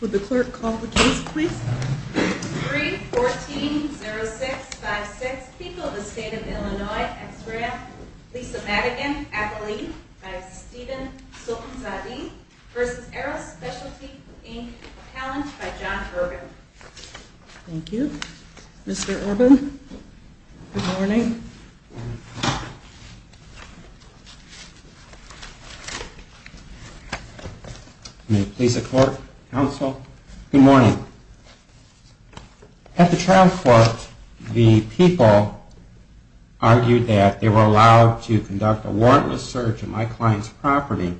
Would the clerk call the case, please? 3-14-06-56, People of the State of Illinois, X-Ray, Lisa Madigan, Appellee, v. Stephen Sulcansadi, v. Aero Specialty, Inc., Appellant, by John Urban. Thank you. Mr. Urban, good morning. Good morning. At the trial court, the people argued that they were allowed to conduct a warrantless search of my client's property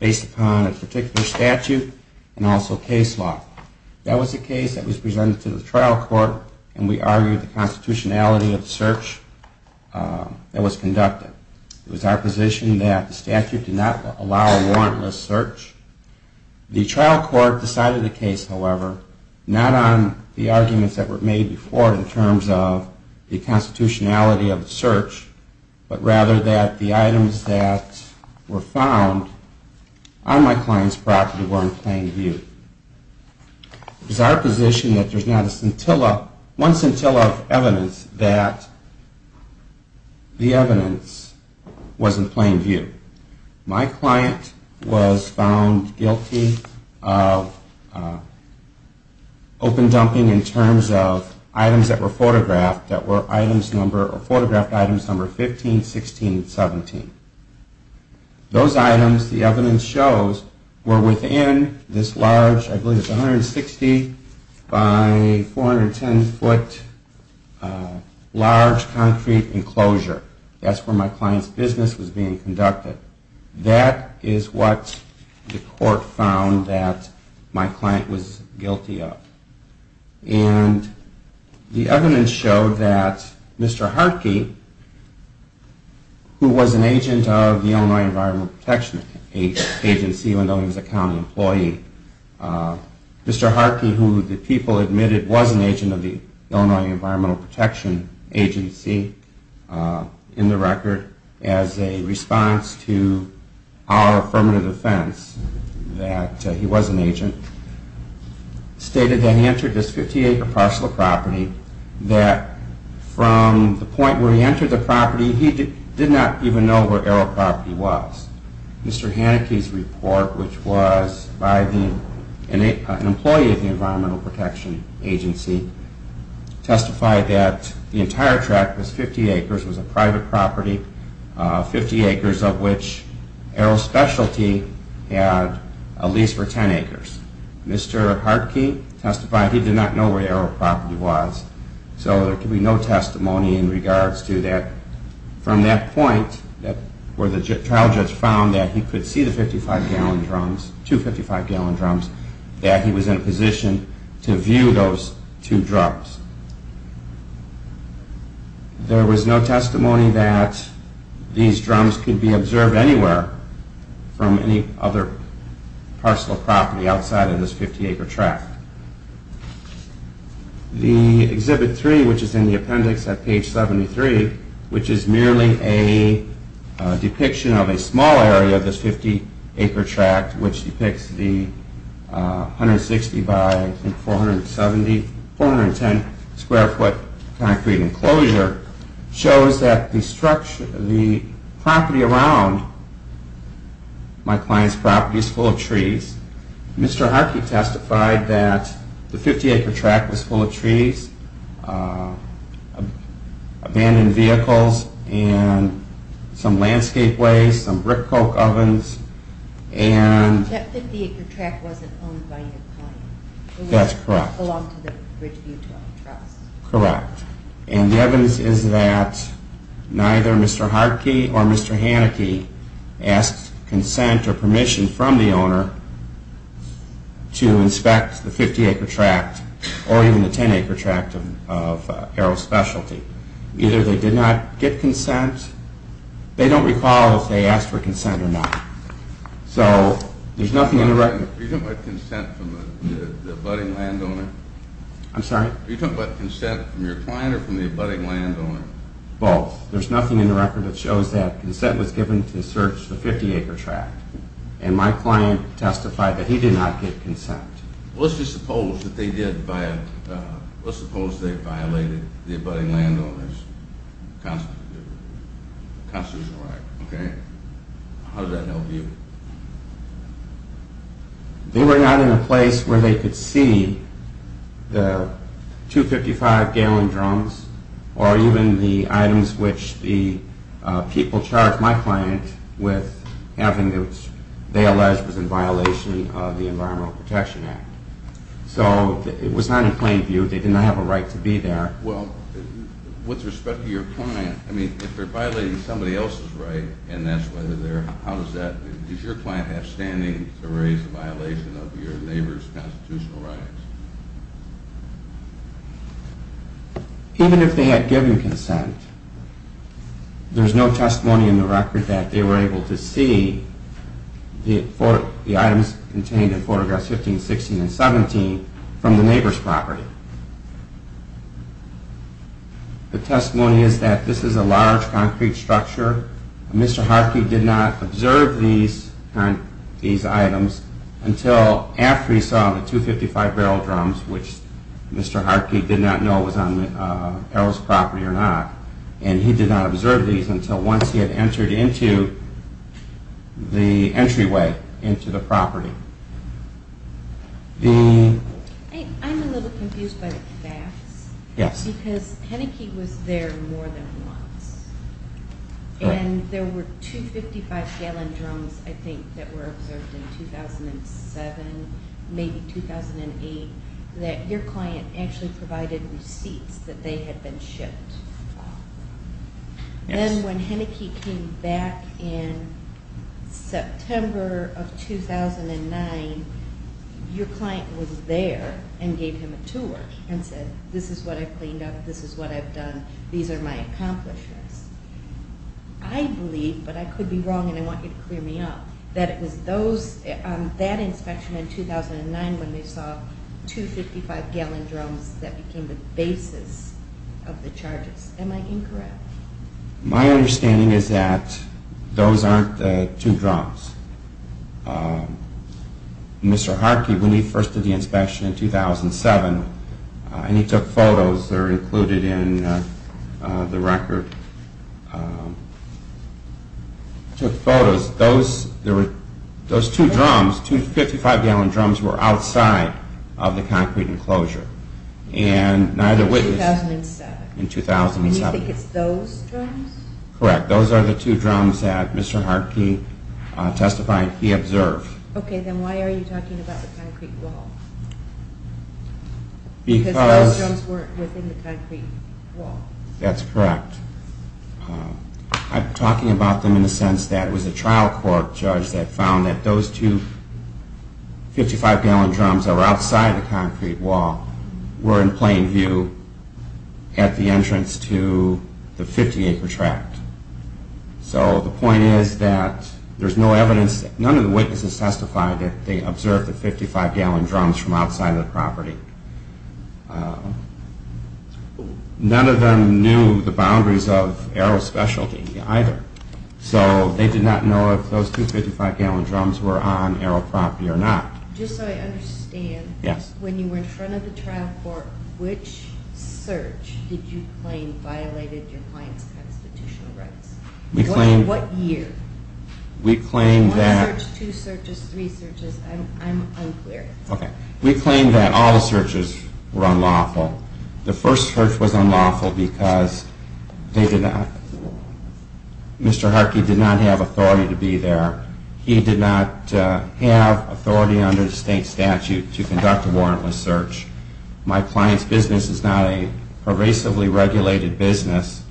based upon a particular statute and also case law. That was the case that was presented to the trial court and we argued the constitutionality of the search that was conducted. It was our position that the statute did not allow a warrantless search. The trial court decided the case, however, not on the arguments that were made before in terms of the constitutionality of the search, but rather that the items that were found on my client's property were in plain view. It was our position that there's not a scintilla, one scintilla of evidence that the evidence was in plain view. My client was found guilty of open dumping in terms of items that were photographed that were items number, or photographed items number 15, 16, 17. Those items, the evidence shows, were within this large, I believe it was 160 by 410 foot large concrete enclosure. That's where my client's business was being conducted. That is what the court found that my client was guilty of. And the evidence showed that Mr. Hartke, who was an agent of the Illinois Environmental Protection Agency, even though he was a county employee, Mr. Hartke, who the people admitted was an agent of the Illinois Environmental Protection Agency, in the record, as a response to the fact that he was a county employee, was a county employee. In response to our affirmative defense that he was an agent, stated that he entered this 50-acre parcel of property, that from the point where he entered the property, he did not even know where Aero Property was. Mr. Hartke testified he did not know where Aero Property was, so there can be no testimony in regards to that. From that point, where the trial judge found that he could see the 55-gallon drums, two 55-gallon drums, that he was in a position to view those two drums. There was no testimony that these drums could be observed anywhere from any other parcel of property outside of this 50-acre tract. The Exhibit 3, which is in the appendix at page 73, which is merely a depiction of a small area of this 50-acre tract, which depicts the 160-by-410-square-foot concrete enclosure, shows that the property around my client's property is full of trees. Mr. Hartke testified that the 50-acre tract was full of trees, abandoned vehicles, and some landscape waste, some brick coke ovens. That 50-acre tract wasn't owned by your client? That's correct. It belonged to the Ridgeview Trust? Correct. And the evidence is that neither Mr. Hartke or Mr. Haneke asked consent or permission from the owner to inspect the 50-acre tract or even the 10-acre tract of Aero Specialty. Either they did not get consent. They don't recall if they asked for consent or not. Are you talking about consent from the abutting landowner? I'm sorry? Are you talking about consent from your client or from the abutting landowner? Both. There's nothing in the record that shows that consent was given to search the 50-acre tract. And my client testified that he did not get consent. Let's just suppose that they violated the abutting landowner's constitutional right. How does that help you? They were not in a place where they could see the 255-gallon drums or even the items which the people charged my client with having, which they alleged was in violation of the Environmental Protection Act. So it was not in plain view. They did not have a right to be there. Well, with respect to your client, I mean, if they're violating somebody else's right and that's why they're there, how does that, does your client have standing to raise a violation of your neighbor's constitutional rights? Even if they had given consent, there's no testimony in the record that they were able to see the items contained in photographs 15, 16, and 17 from the neighbor's property. The testimony is that this is a large concrete structure. Mr. Hartke did not observe these items until after he saw the 255-barrel drums, which Mr. Hartke did not know was on Errol's property or not. And he did not observe these until once he had entered into the entryway into the property. I'm a little confused by the facts because Heneke was there more than once. And there were 255-gallon drums, I think, that were observed in 2007, maybe 2008, that your client actually provided receipts that they had been shipped. Then when Heneke came back in September of 2009, your client was there and gave him a tour and said, this is what I've cleaned up, this is what I've done, these are my accomplishments. I believe, but I could be wrong and I want you to clear me up, that it was that inspection in 2009 when they saw 255-gallon drums that became the basis of the charges. Am I incorrect? My understanding is that those aren't the two drums. Mr. Hartke, when he first did the inspection in 2007, and he took photos that are included in the record, took photos. Those two drums, 255-gallon drums, were outside of the concrete enclosure and neither witnessed in 2007. And you think it's those drums? Correct. Those are the two drums that Mr. Hartke testified he observed. Okay, then why are you talking about the concrete wall? Because those drums weren't within the concrete wall. That's correct. I'm talking about them in the sense that it was a trial court judge that found that those two 55-gallon drums that were outside the concrete wall were in plain view at the entrance to the 50-acre tract. So the point is that there's no evidence, none of the witnesses testified that they observed the 55-gallon drums from outside of the property. None of them knew the boundaries of arrow specialty either. So they did not know if those two 55-gallon drums were on arrow property or not. Just so I understand, when you were in front of the trial court, which search did you claim violated your client's constitutional rights? What year? One search, two searches, three searches. I'm unclear. Okay. We claim that all searches were unlawful. The first search was unlawful because Mr. Hartke did not have authority to be there. He did not have authority under the state statute to conduct a warrantless search. My client's business is not a pervasively regulated business.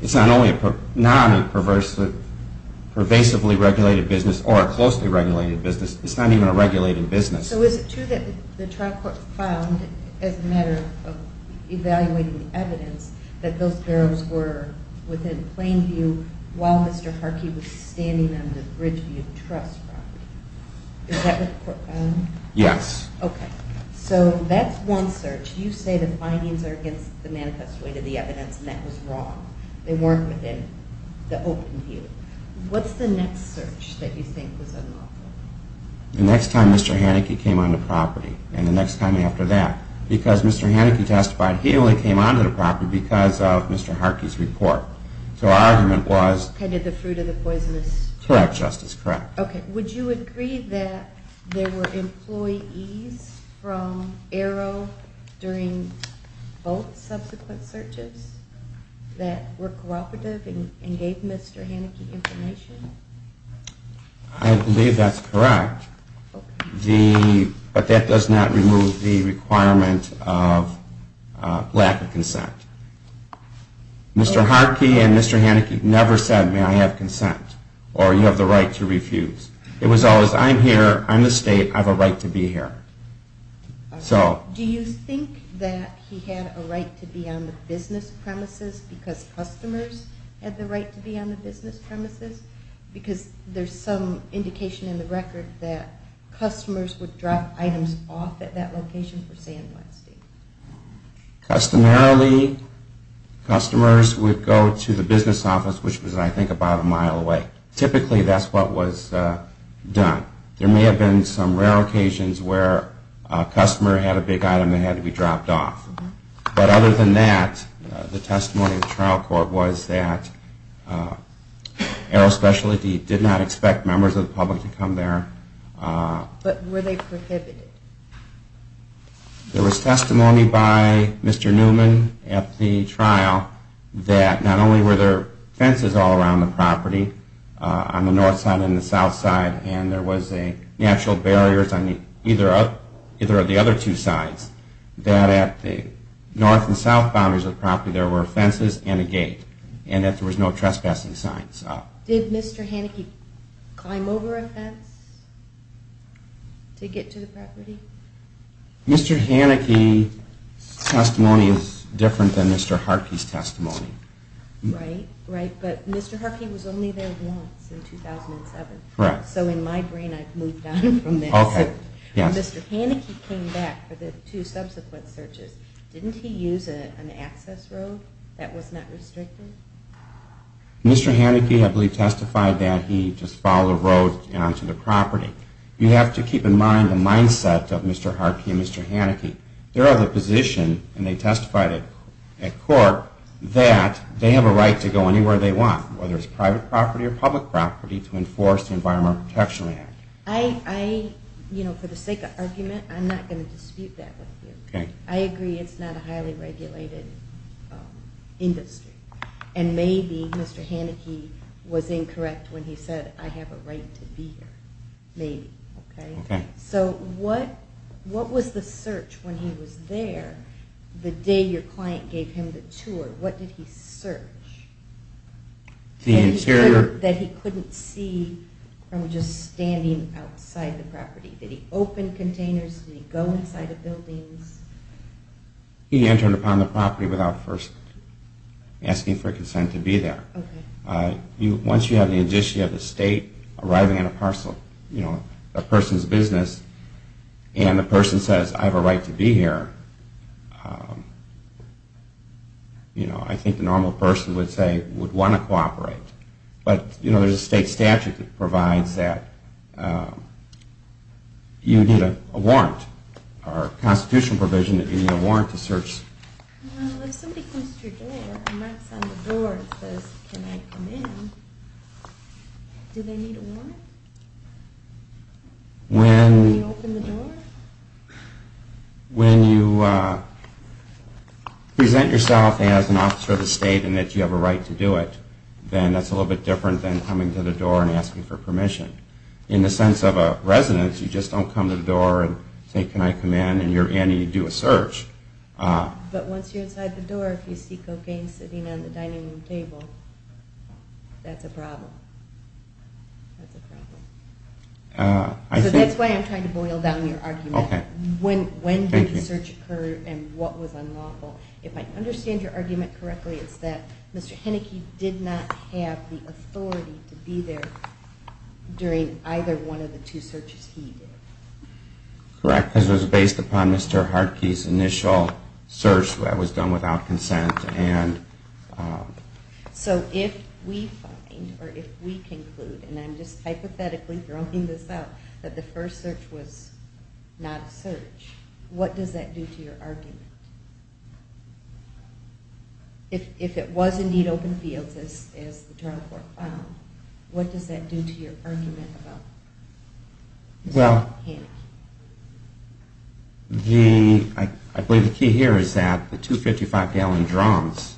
It's not only a non-pervasively regulated business or a closely regulated business, it's not even a regulated business. So is it true that the trial court found, as a matter of evaluating evidence, that those barrels were within plain view while Mr. Hartke was standing on the Bridgeview Trust property? Yes. Okay. So that's one search. You say the findings are against the manifest way to the evidence and that was wrong. They weren't within the open view. What's the next search that you think was unlawful? The next time Mr. Haneke came on the property and the next time after that. Because Mr. Haneke testified he only came onto the property because of Mr. Hartke's report. So our argument was... Kind of the fruit of the poisonous... Correct, Justice, correct. Okay. Would you agree that there were employees from Arrow during both subsequent searches that were cooperative and gave Mr. Haneke information? I believe that's correct. But that does not remove the requirement of lack of consent. Mr. Hartke and Mr. Haneke never said, may I have consent, or you have the right to refuse. It was always, I'm here, I'm the state, I have a right to be here. Do you think that he had a right to be on the business premises because customers had the right to be on the business premises? Because there's some indication in the record that customers would drop items off at that location, per se, in one state. Customarily, customers would go to the business office, which was, I think, about a mile away. Typically, that's what was done. There may have been some rare occasions where a customer had a big item that had to be dropped off. But other than that, the testimony of the trial court was that Arrow Specialty did not expect members of the public to come there. But were they prohibited? There was testimony by Mr. Newman at the trial that not only were there fences all around the property, on the north side and the south side, and there was a natural barrier on either of the other two sides, that at the north and south boundaries of the property, there were fences and a gate. And that there was no trespassing sign. Did Mr. Haneke climb over a fence to get to the property? Mr. Haneke's testimony is different than Mr. Harkey's testimony. Right, but Mr. Harkey was only there once, in 2007. Right. So in my brain, I've moved on from that. Okay, yes. When Mr. Haneke came back for the two subsequent searches, didn't he use an access road that was not restricted? Mr. Haneke, I believe, testified that he just followed the road down to the property. You have to keep in mind the mindset of Mr. Harkey and Mr. Haneke. They're of the position, and they testified at court, that they have a right to go anywhere they want, whether it's private property or public property, to enforce the Environmental Protection Act. I, you know, for the sake of argument, I'm not going to dispute that with you. Okay. I agree it's not a highly regulated industry, and maybe Mr. Haneke was incorrect when he said, I have a right to be here. Maybe, okay? Okay. So what was the search when he was there, the day your client gave him the tour? What did he search? The interior. That he couldn't see from just standing outside the property. Did he open containers? Did he go inside the buildings? He entered upon the property without first asking for consent to be there. Okay. Once you have the addition, you have the state arriving in a parcel, you know, a person's business, and the person says, I have a right to be here, you know, I think the normal person would say, would want to cooperate. But, you know, there's a state statute that provides that you need a warrant, or a constitutional provision that you need a warrant to search. Well, if somebody comes to your door and knocks on the door and says, can I come in, do they need a warrant? When you open the door? When you present yourself as an officer of the state and that you have a right to do it, then that's a little bit different than coming to the door and asking for permission. In the sense of a residence, you just don't come to the door and say, can I come in, and you do a search. But once you're inside the door, if you see cocaine sitting on the dining room table, that's a problem. That's a problem. So that's why I'm trying to boil down your argument. When did the search occur, and what was unlawful? If I understand your argument correctly, it's that Mr. Heneke did not have the authority to be there during either one of the two searches he did. Correct, because it was based upon Mr. Hartke's initial search that was done without consent. So if we find, or if we conclude, and I'm just hypothetically throwing this out, that the first search was not a search, what does that do to your argument? If it was indeed open fields, as the drug court found, what does that do to your argument about Mr. Heneke? I believe the key here is that the two 55-gallon drums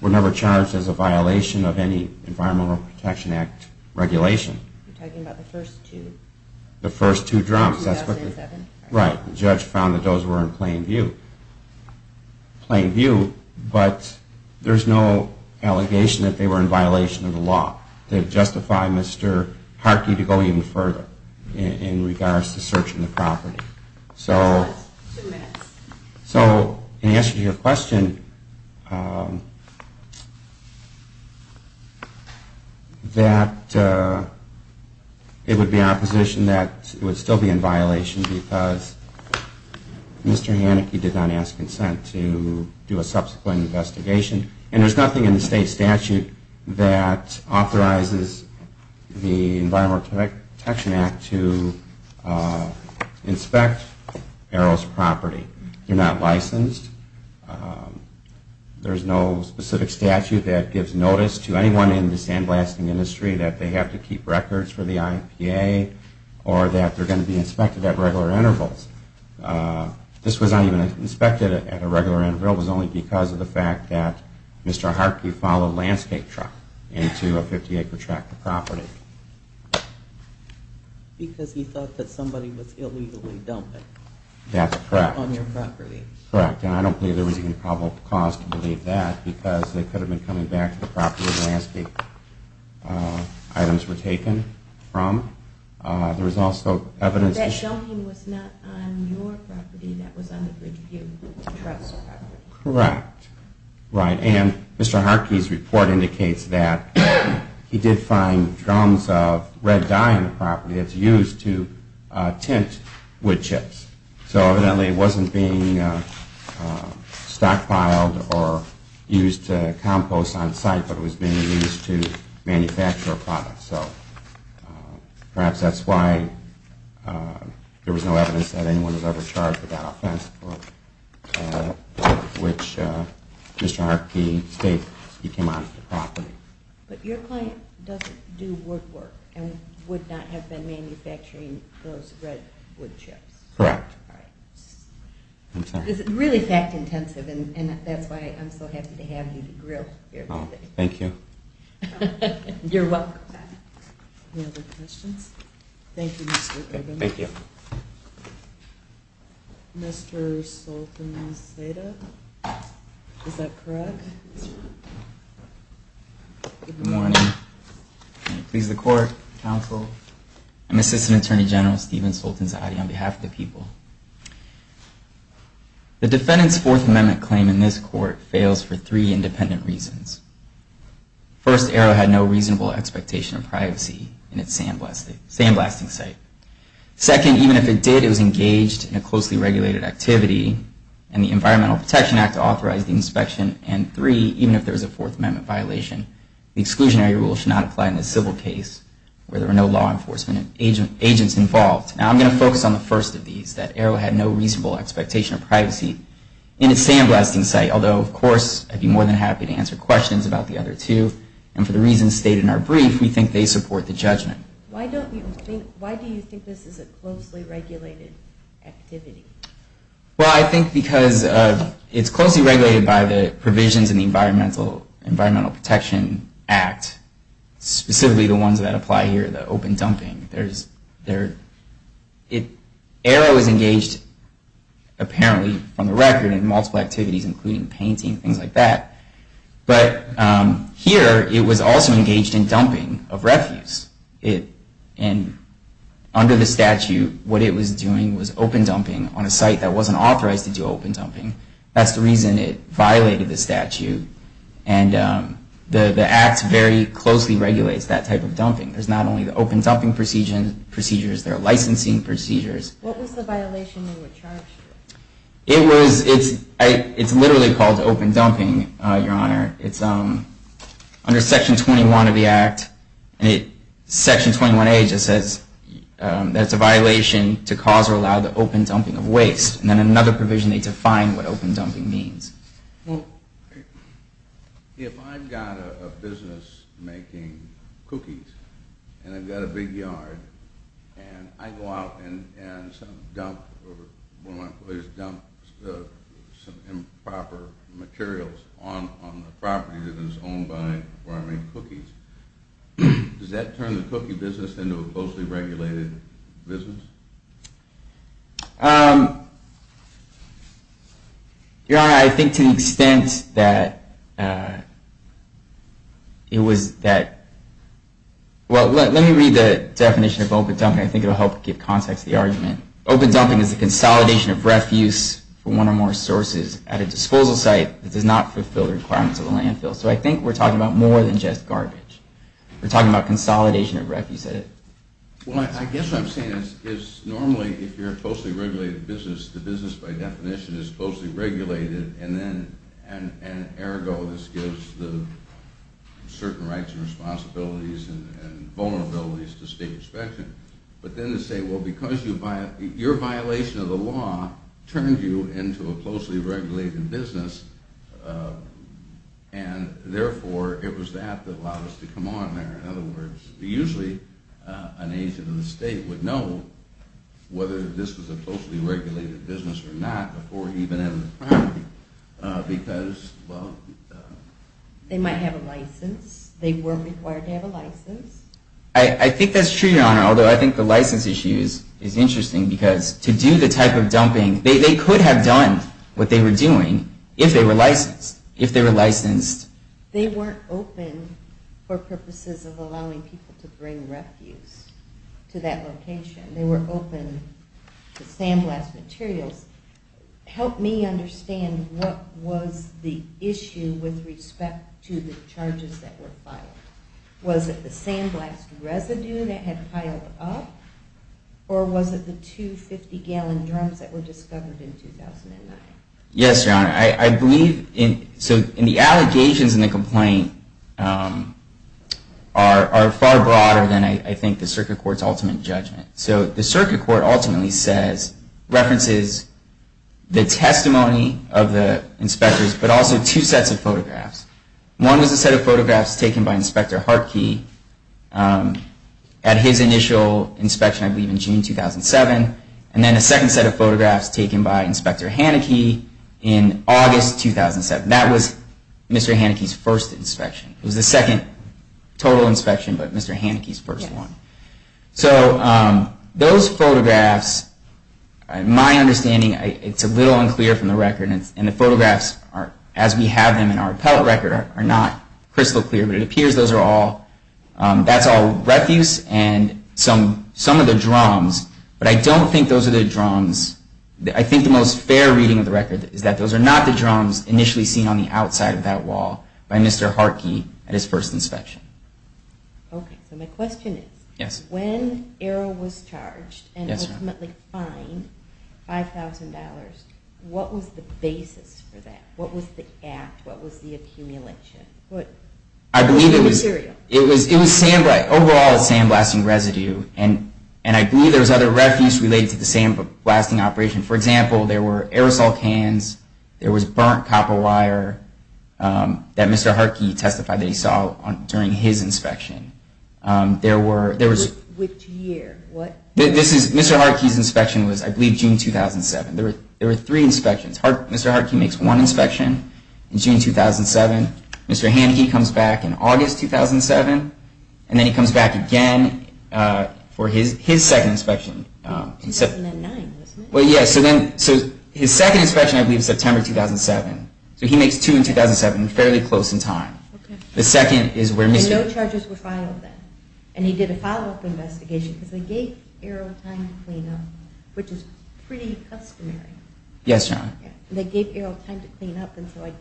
were never charged as a violation of any Environmental Protection Act regulation. You're talking about the first two? The first two drums. 2007. Right. The judge found that those were in plain view, but there's no allegation that they were in violation of the law. They justify Mr. Hartke to go even further in regards to searching the property. So in answer to your question, that it would be our position that it would still be in violation because Mr. Heneke did not ask consent to do a subsequent investigation. And there's nothing in the state statute that authorizes the Environmental Protection Act to inspect arrows' property. They're not licensed. There's no specific statute that gives notice to anyone in the sandblasting industry that they have to keep records for the IPA or that they're going to be inspected at regular intervals. This was not even inspected at a regular interval. It was only because of the fact that Mr. Hartke followed a landscape truck into a 50-acre tract of property. Because he thought that somebody was illegally dumping. That's correct. On your property. Correct, and I don't believe there was any probable cause to believe that because they could have been coming back to the property the landscape items were taken from. That dumping was not on your property. That was on the Bridgeview Trust property. Correct, and Mr. Hartke's report indicates that he did find drums of red dye on the property that's used to tint wood chips. So evidently it wasn't being stockpiled or used to compost on site, but it was being used to manufacture a product. So perhaps that's why there was no evidence that anyone was ever charged with that offense for which Mr. Hartke states he came on to the property. But your client doesn't do woodwork and would not have been manufacturing those red wood chips. Correct. All right. I'm sorry. This is really fact-intensive, and that's why I'm so happy to have you to grill here today. Thank you. You're welcome. Any other questions? Thank you, Mr. Coburn. Thank you. Mr. Sultan Saida, is that correct? That's right. Good morning. May it please the Court, Counsel, and Assistant Attorney General Stephen Sultan Saidi on behalf of the people. The defendant's Fourth Amendment claim in this court fails for three independent reasons. First, Arrow had no reasonable expectation of privacy in its sandblasting site. Second, even if it did, it was engaged in a closely regulated activity, and the Environmental Protection Act authorized the inspection. And three, even if there was a Fourth Amendment violation, the exclusionary rule should not apply in a civil case where there were no law enforcement agents involved. Now, I'm going to focus on the first of these, that Arrow had no reasonable expectation of privacy in its sandblasting site, although, of course, I'd be more than happy to answer questions about the other two. And for the reasons stated in our brief, we think they support the judgment. Why do you think this is a closely regulated activity? Well, I think because it's closely regulated by the provisions in the Environmental Protection Act, specifically the ones that apply here, the open dumping. Arrow is engaged, apparently, on the record in multiple activities, including painting, things like that. But here, it was also engaged in dumping of refuse. And under the statute, what it was doing was open dumping on a site that wasn't authorized to do open dumping. That's the reason it violated the statute. And the Act very closely regulates that type of dumping. There's not only the open dumping procedures, there are licensing procedures. What was the violation they were charged with? It's literally called open dumping, Your Honor. It's under Section 21 of the Act. And Section 21A just says that it's a violation to cause or allow the open dumping of waste. And then another provision, they define what open dumping means. Well, if I've got a business making cookies, and I've got a big yard, and I go out and dump some improper materials on the property that is owned by where I make cookies, does that turn the cookie business into a closely regulated business? Your Honor, I think to the extent that it was that – well, let me read the definition of open dumping. I think it will help give context to the argument. Open dumping is the consolidation of refuse from one or more sources at a disposal site that does not fulfill the requirements of the landfill. So I think we're talking about more than just garbage. We're talking about consolidation of refuse. Well, I guess what I'm saying is normally if you're a closely regulated business, the business by definition is closely regulated. And ergo, this gives certain rights and responsibilities and vulnerabilities to state inspection. But then to say, well, because your violation of the law turned you into a closely regulated business, and therefore it was that that allowed us to come on there. In other words, usually an agent of the state would know whether this was a closely regulated business or not before even entering the property because, well – They might have a license. They were required to have a license. I think that's true, Your Honor, although I think the license issue is interesting because to do the type of dumping, they could have done what they were doing if they were licensed. They weren't open for purposes of allowing people to bring refuse to that location. They were open to sandblast materials. Help me understand what was the issue with respect to the charges that were filed. Was it the sandblast residue that had piled up? Or was it the two 50-gallon drums that were discovered in 2009? Yes, Your Honor. I believe in the allegations in the complaint are far broader than I think the circuit court's ultimate judgment. So the circuit court ultimately says, references the testimony of the inspectors, but also two sets of photographs. One was a set of photographs taken by Inspector Hartke at his initial inspection, I believe in June 2007. And then a second set of photographs taken by Inspector Haneke in August 2007. That was Mr. Haneke's first inspection. It was the second total inspection, but Mr. Haneke's first one. So those photographs, my understanding, it's a little unclear from the record. And the photographs, as we have them in our appellate record, are not crystal clear. But it appears those are all – that's all refuse and some of the drums. But I don't think those are the drums. I think the most fair reading of the record is that those are not the drums initially seen on the outside of that wall by Mr. Hartke at his first inspection. Okay, so my question is, when Arrow was charged and ultimately fined $5,000, what was the basis for that? What was the act? What was the accumulation? I believe it was – What material? And I believe there was other refuse related to the same blasting operation. For example, there were aerosol cans. There was burnt copper wire that Mr. Hartke testified that he saw during his inspection. There were – Which year? This is – Mr. Hartke's inspection was, I believe, June 2007. There were three inspections. Mr. Hartke makes one inspection in June 2007. Mr. Haneke comes back in August 2007. And then he comes back again for his second inspection. 2009, wasn't it? Well, yeah. So his second inspection, I believe, was September 2007. So he makes two in 2007, fairly close in time. Okay. The second is where Mr. – And no charges were filed then. And he did a follow-up investigation because they gave Arrow time to clean up, which is pretty customary. Yes, John. They gave Arrow time to clean up, and so I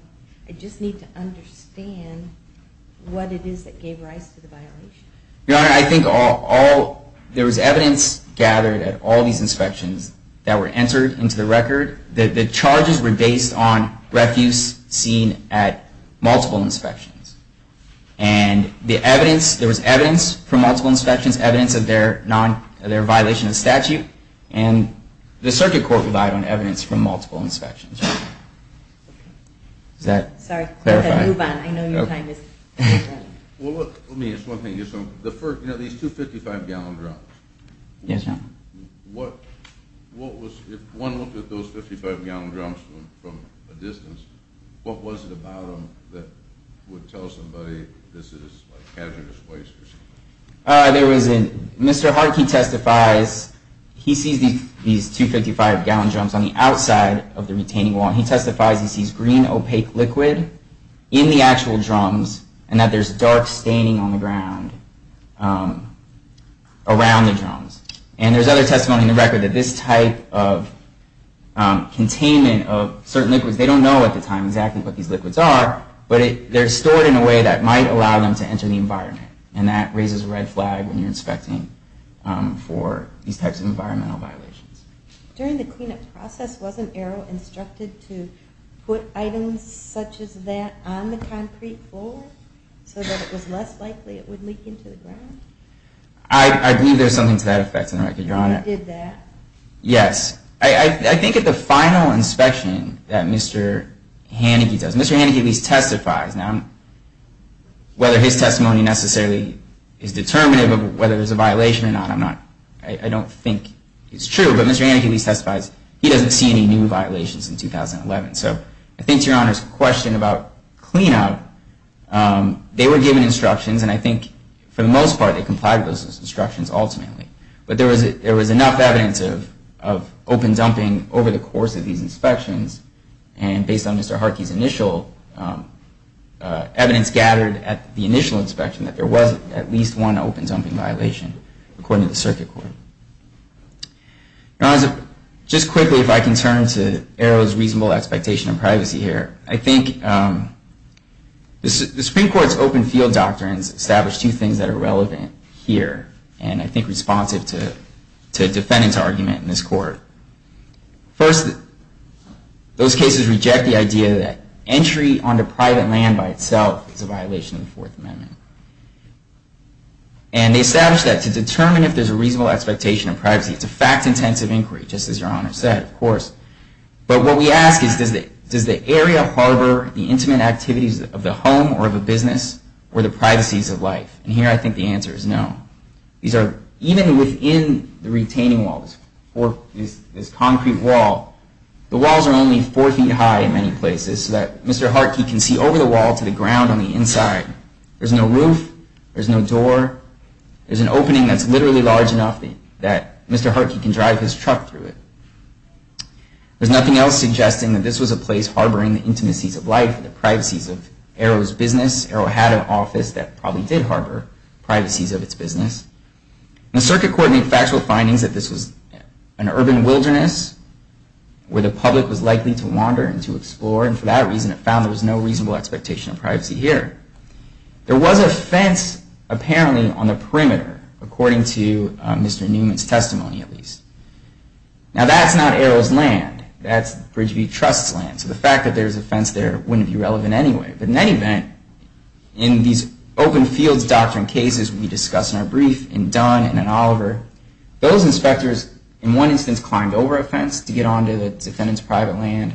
just need to understand what it is that gave rise to the violation. Your Honor, I think all – there was evidence gathered at all these inspections that were entered into the record. The charges were based on refuse seen at multiple inspections. And the evidence – there was evidence from multiple inspections, evidence of their violation of statute. And the circuit court relied on evidence from multiple inspections. Does that clarify? Sorry. Move on. I know your time is up. Well, let me ask one thing. The first – you know, these two 55-gallon drums. Yes, Your Honor. What was – if one looked at those 55-gallon drums from a distance, what was it about them that would tell somebody this is hazardous waste or something? There was a – Mr. Hartke testifies – he sees these two 55-gallon drums on the outside of the retaining wall, and he testifies he sees green opaque liquid in the actual drums and that there's dark staining on the ground around the drums. And there's other testimony in the record that this type of containment of certain liquids – they don't know at the time exactly what these liquids are, but they're stored in a way that might allow them to enter the environment. And that raises a red flag when you're inspecting for these types of environmental violations. During the cleanup process, wasn't Errol instructed to put items such as that on the concrete floor so that it was less likely it would leak into the ground? I believe there's something to that effect in the record, Your Honor. He did that? Yes. I think at the final inspection that Mr. Haneke does – Mr. Haneke at least testifies. Now, whether his testimony necessarily is determinative of whether there's a violation or not, I'm not – I don't think it's true. But Mr. Haneke at least testifies he doesn't see any new violations in 2011. So I think to Your Honor's question about cleanup, they were given instructions, and I think for the most part they complied with those instructions ultimately. But there was enough evidence of open dumping over the course of these inspections, and based on Mr. Haneke's initial evidence gathered at the initial inspection, that there was at least one open dumping violation according to the circuit court. Now, as a – just quickly, if I can turn to Errol's reasonable expectation of privacy here, I think the Supreme Court's open field doctrines establish two things that are relevant here, and I think responsive to a defendant's argument in this court. First, those cases reject the idea that entry onto private land by itself is a violation of the Fourth Amendment. And they establish that to determine if there's a reasonable expectation of privacy, it's a fact-intensive inquiry, just as Your Honor said, of course. But what we ask is, does the area harbor the intimate activities of the home or of a business, or the privacies of life? And here I think the answer is no. These are – even within the retaining walls, this concrete wall, the walls are only four feet high in many places, so that Mr. Haneke can see over the wall to the ground on the inside. There's no roof. There's no door. There's an opening that's literally large enough that Mr. Haneke can drive his truck through it. There's nothing else suggesting that this was a place harboring the intimacies of life, the privacies of Arrow's business. Arrow had an office that probably did harbor privacies of its business. The circuit court made factual findings that this was an urban wilderness where the public was likely to wander and to explore, and for that reason it found there was no reasonable expectation of privacy here. There was a fence, apparently, on the perimeter, according to Mr. Newman's testimony, at least. Now, that's not Arrow's land. That's Bridgeview Trust's land. So the fact that there's a fence there wouldn't be relevant anyway. But in any event, in these open fields doctrine cases we discussed in our brief, in Dunn and in Oliver, those inspectors, in one instance, climbed over a fence to get onto the defendant's private land.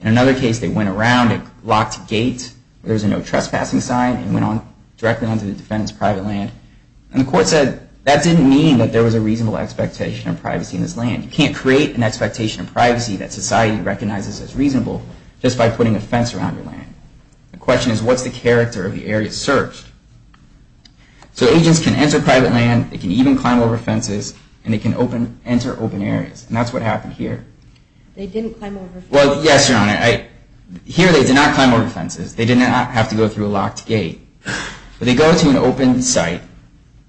In another case, they went around a locked gate where there was no trespassing sign and went directly onto the defendant's private land. And the court said that didn't mean that there was a reasonable expectation of privacy in this land. You can't create an expectation of privacy that society recognizes as reasonable just by putting a fence around your land. The question is, what's the character of the area searched? So agents can enter private land, they can even climb over fences, and they can enter open areas, and that's what happened here. They didn't climb over fences. Well, yes, Your Honor. Here they did not climb over fences. They did not have to go through a locked gate. But they go to an open site,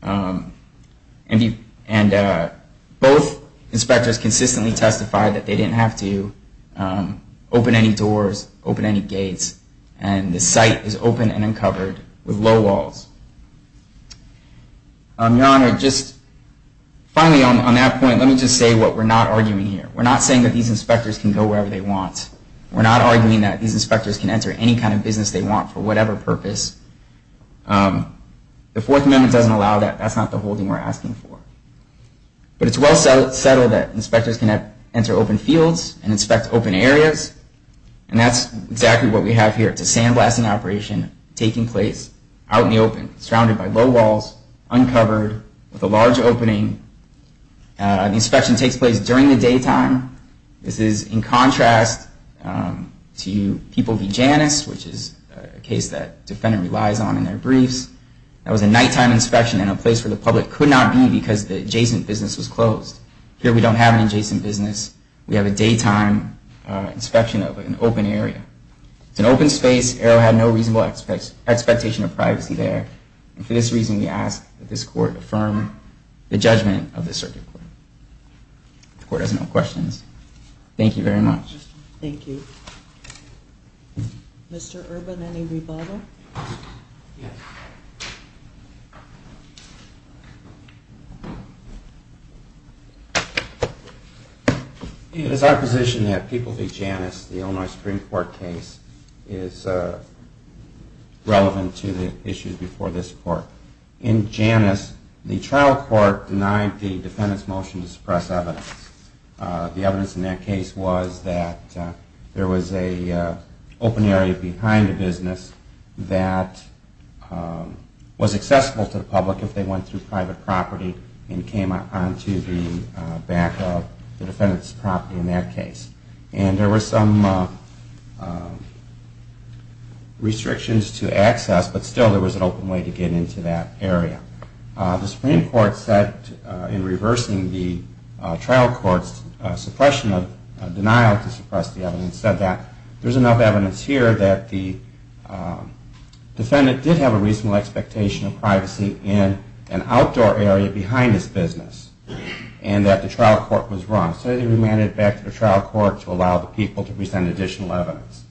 and both inspectors consistently testified that they didn't have to open any doors, open any gates, and the site is open and uncovered with low walls. Your Honor, just finally on that point, let me just say what we're not arguing here. We're not saying that these inspectors can go wherever they want. We're not arguing that these inspectors can enter any kind of business they want for whatever purpose. The Fourth Amendment doesn't allow that. That's not the whole thing we're asking for. But it's well settled that inspectors can enter open fields and inspect open areas, and that's exactly what we have here. It's a sandblasting operation taking place out in the open, surrounded by low walls, uncovered, with a large opening. The inspection takes place during the daytime. This is in contrast to People v. Janus, which is a case that the defendant relies on in their briefs. That was a nighttime inspection in a place where the public could not be because the adjacent business was closed. Here we don't have an adjacent business. We have a daytime inspection of an open area. It's an open space. Arrow had no reasonable expectation of privacy there. And for this reason, we ask that this Court affirm the judgment of the Circuit Court. The Court has no questions. Thank you very much. Thank you. Mr. Urban, any rebuttal? Yes. It is our position that People v. Janus, the Illinois Supreme Court case, is relevant to the issues before this Court. In Janus, the trial court denied the defendant's motion to suppress evidence. The evidence in that case was that there was an open area behind the business that was accessible to the public if they went through private property and came onto the back of the defendant's property in that case. And there were some restrictions to access, but still there was an open way to get into that area. The Supreme Court said in reversing the trial court's suppression of denial to suppress the evidence said that there's enough evidence here that the defendant did have a reasonable expectation of privacy in an outdoor area behind his business and that the trial court was wrong. So they remanded it back to the trial court to allow the people to present additional evidence.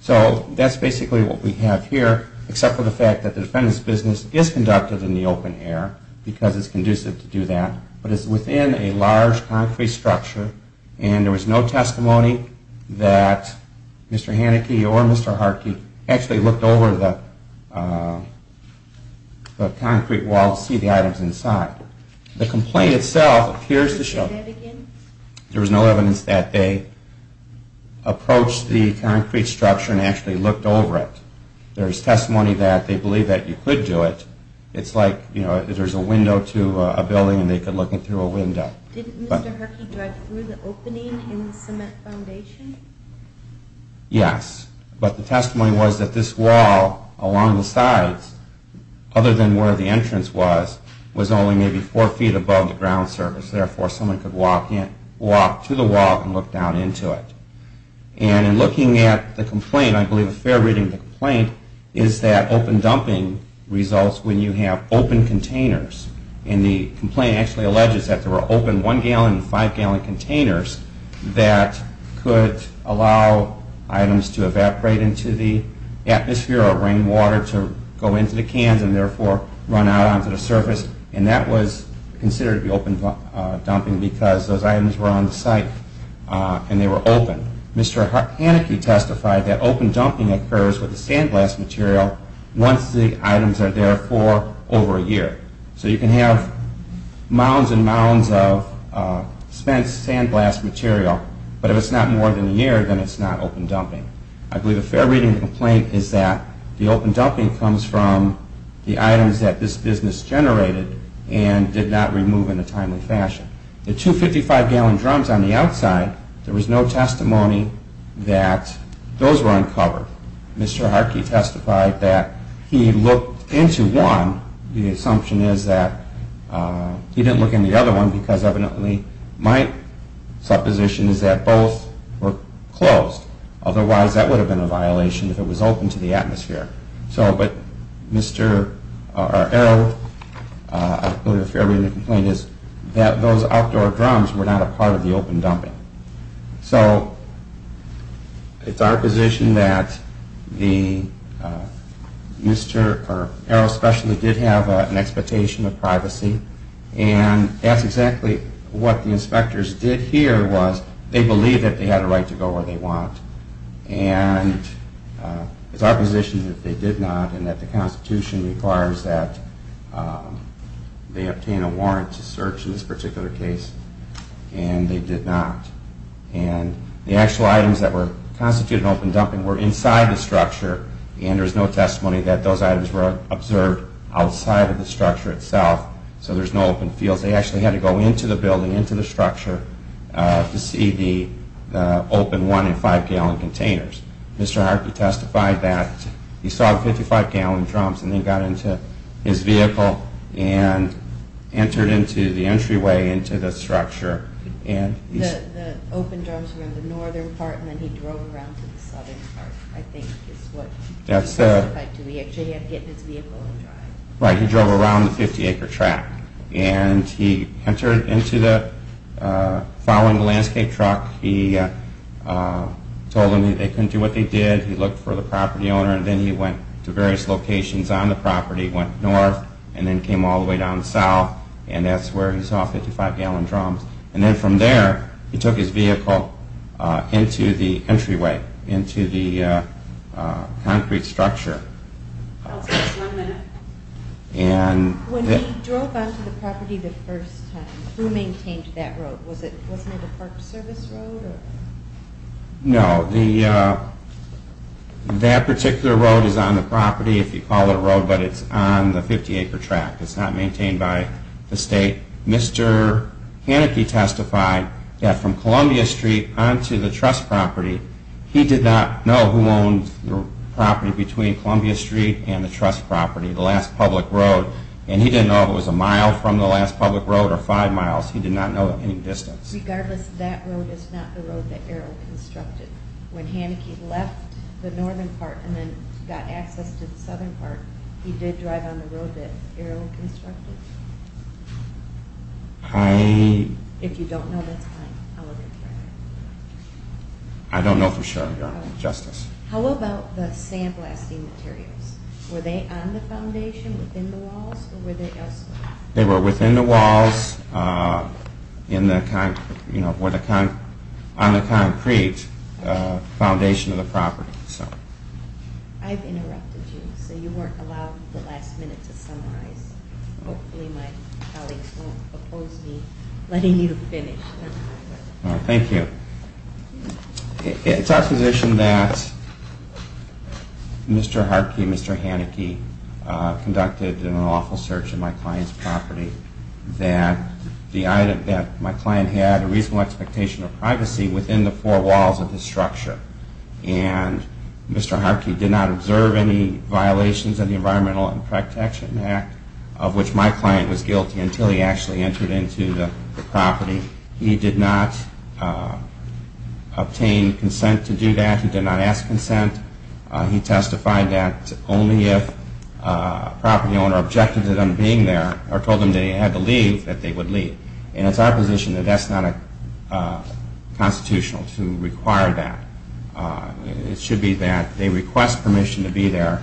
So that's basically what we have here, except for the fact that the defendant's business is conducted in the open air because it's conducive to do that, but it's within a large concrete structure and there was no testimony that Mr. Haneke or Mr. Harkey actually looked over the concrete wall to see the items inside. The complaint itself appears to show that there was no evidence that they approached the concrete structure and actually looked over it. There's testimony that they believe that you could do it. It's like there's a window to a building and they could look in through a window. Didn't Mr. Harkey drive through the opening in the cement foundation? Yes, but the testimony was that this wall along the sides, other than where the entrance was, was only maybe four feet above the ground surface. Therefore, someone could walk to the wall and look down into it. And in looking at the complaint, I believe a fair reading of the complaint, is that open dumping results when you have open containers. And the complaint actually alleges that there were open one-gallon and five-gallon containers that could allow items to evaporate into the atmosphere or rainwater to go into the cans and therefore run out onto the surface. And that was considered to be open dumping because those items were on the site and they were open. Mr. Harkey testified that open dumping occurs with the sandblast material once the items are there for over a year. So you can have mounds and mounds of spent sandblast material, but if it's not more than a year, then it's not open dumping. I believe a fair reading of the complaint is that the open dumping comes from the items that this business generated and did not remove in a timely fashion. The two 55-gallon drums on the outside, there was no testimony that those were uncovered. Mr. Harkey testified that he looked into one. The assumption is that he didn't look in the other one because evidently my supposition is that both were closed. Otherwise, that would have been a violation if it was open to the atmosphere. But Mr. Arrow, I believe a fair reading of the complaint is that those outdoor drums were not a part of the open dumping. So it's our position that Mr. Arrow especially did have an expectation of privacy and that's exactly what the inspectors did here was they believed that they had a right to go where they want. And it's our position that they did not and that the Constitution requires that they obtain a warrant to search in this particular case and they did not. And the actual items that were constituted open dumping were inside the structure and there's no testimony that those items were observed outside of the structure itself. So there's no open fields. They actually had to go into the building, into the structure to see the open one and five-gallon containers. Mr. Harkey testified that he saw the 55-gallon drums and then got into his vehicle and entered into the entryway into the structure. The open drums were in the northern part and then he drove around to the southern part, I think is what he testified to. He actually had to get in his vehicle and drive. Right, he drove around the 50-acre track. And he entered into the, following the landscape truck, he told them that they couldn't do what they did. He looked for the property owner and then he went to various locations on the property, went north and then came all the way down south and that's where he saw 55-gallon drums. And then from there, he took his vehicle into the entryway, into the concrete structure. I'll take just one minute. When he drove onto the property the first time, who maintained that road? Was it a Park Service road? No, that particular road is on the property, if you call it a road, but it's on the 50-acre track. It's not maintained by the state. Mr. Harkey testified that from Columbia Street onto the trust property, he did not know who owned the property between Columbia Street and the trust property, the last public road. And he didn't know if it was a mile from the last public road or five miles. He did not know any distance. Regardless, that road is not the road that Errol constructed. When Hanneke left the northern part and then got access to the southern part, he did drive on the road that Errol constructed? If you don't know, that's fine. I don't know for sure, Your Honor. How about the sandblasting materials? Were they on the foundation, within the walls, or were they elsewhere? They were within the walls, on the concrete foundation of the property. I've interrupted you, so you weren't allowed the last minute to summarize. Hopefully my colleagues won't oppose me letting you finish. Thank you. It's our position that Mr. Harkey and Mr. Hanneke conducted an awful search of my client's property, that my client had a reasonable expectation of privacy within the four walls of the structure. Mr. Harkey did not observe any violations of the Environmental Protection Act, of which my client was guilty until he actually entered into the property. He did not obtain consent to do that. He did not ask consent. He testified that only if a property owner objected to them being there or told them they had to leave, that they would leave. And it's our position that that's not constitutional to require that. It should be that they request permission to be there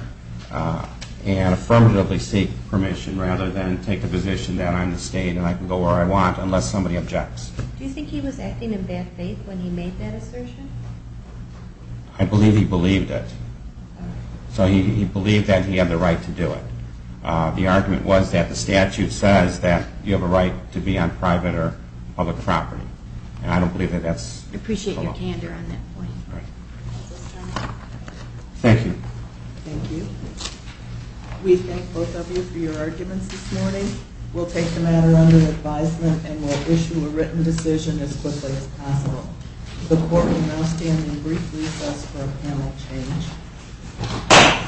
and affirmatively seek permission rather than take the position that I'm the state and I can go where I want unless somebody objects. Do you think he was acting in bad faith when he made that assertion? I believe he believed it. So he believed that he had the right to do it. The argument was that the statute says that you have a right to be on private or public property, and I don't believe that that's the law. I appreciate your candor on that point. Thank you. Thank you. We thank both of you for your arguments this morning. We'll take the matter under advisement and we'll issue a written decision as quickly as possible. The Court will now stand in brief recess for a panel change.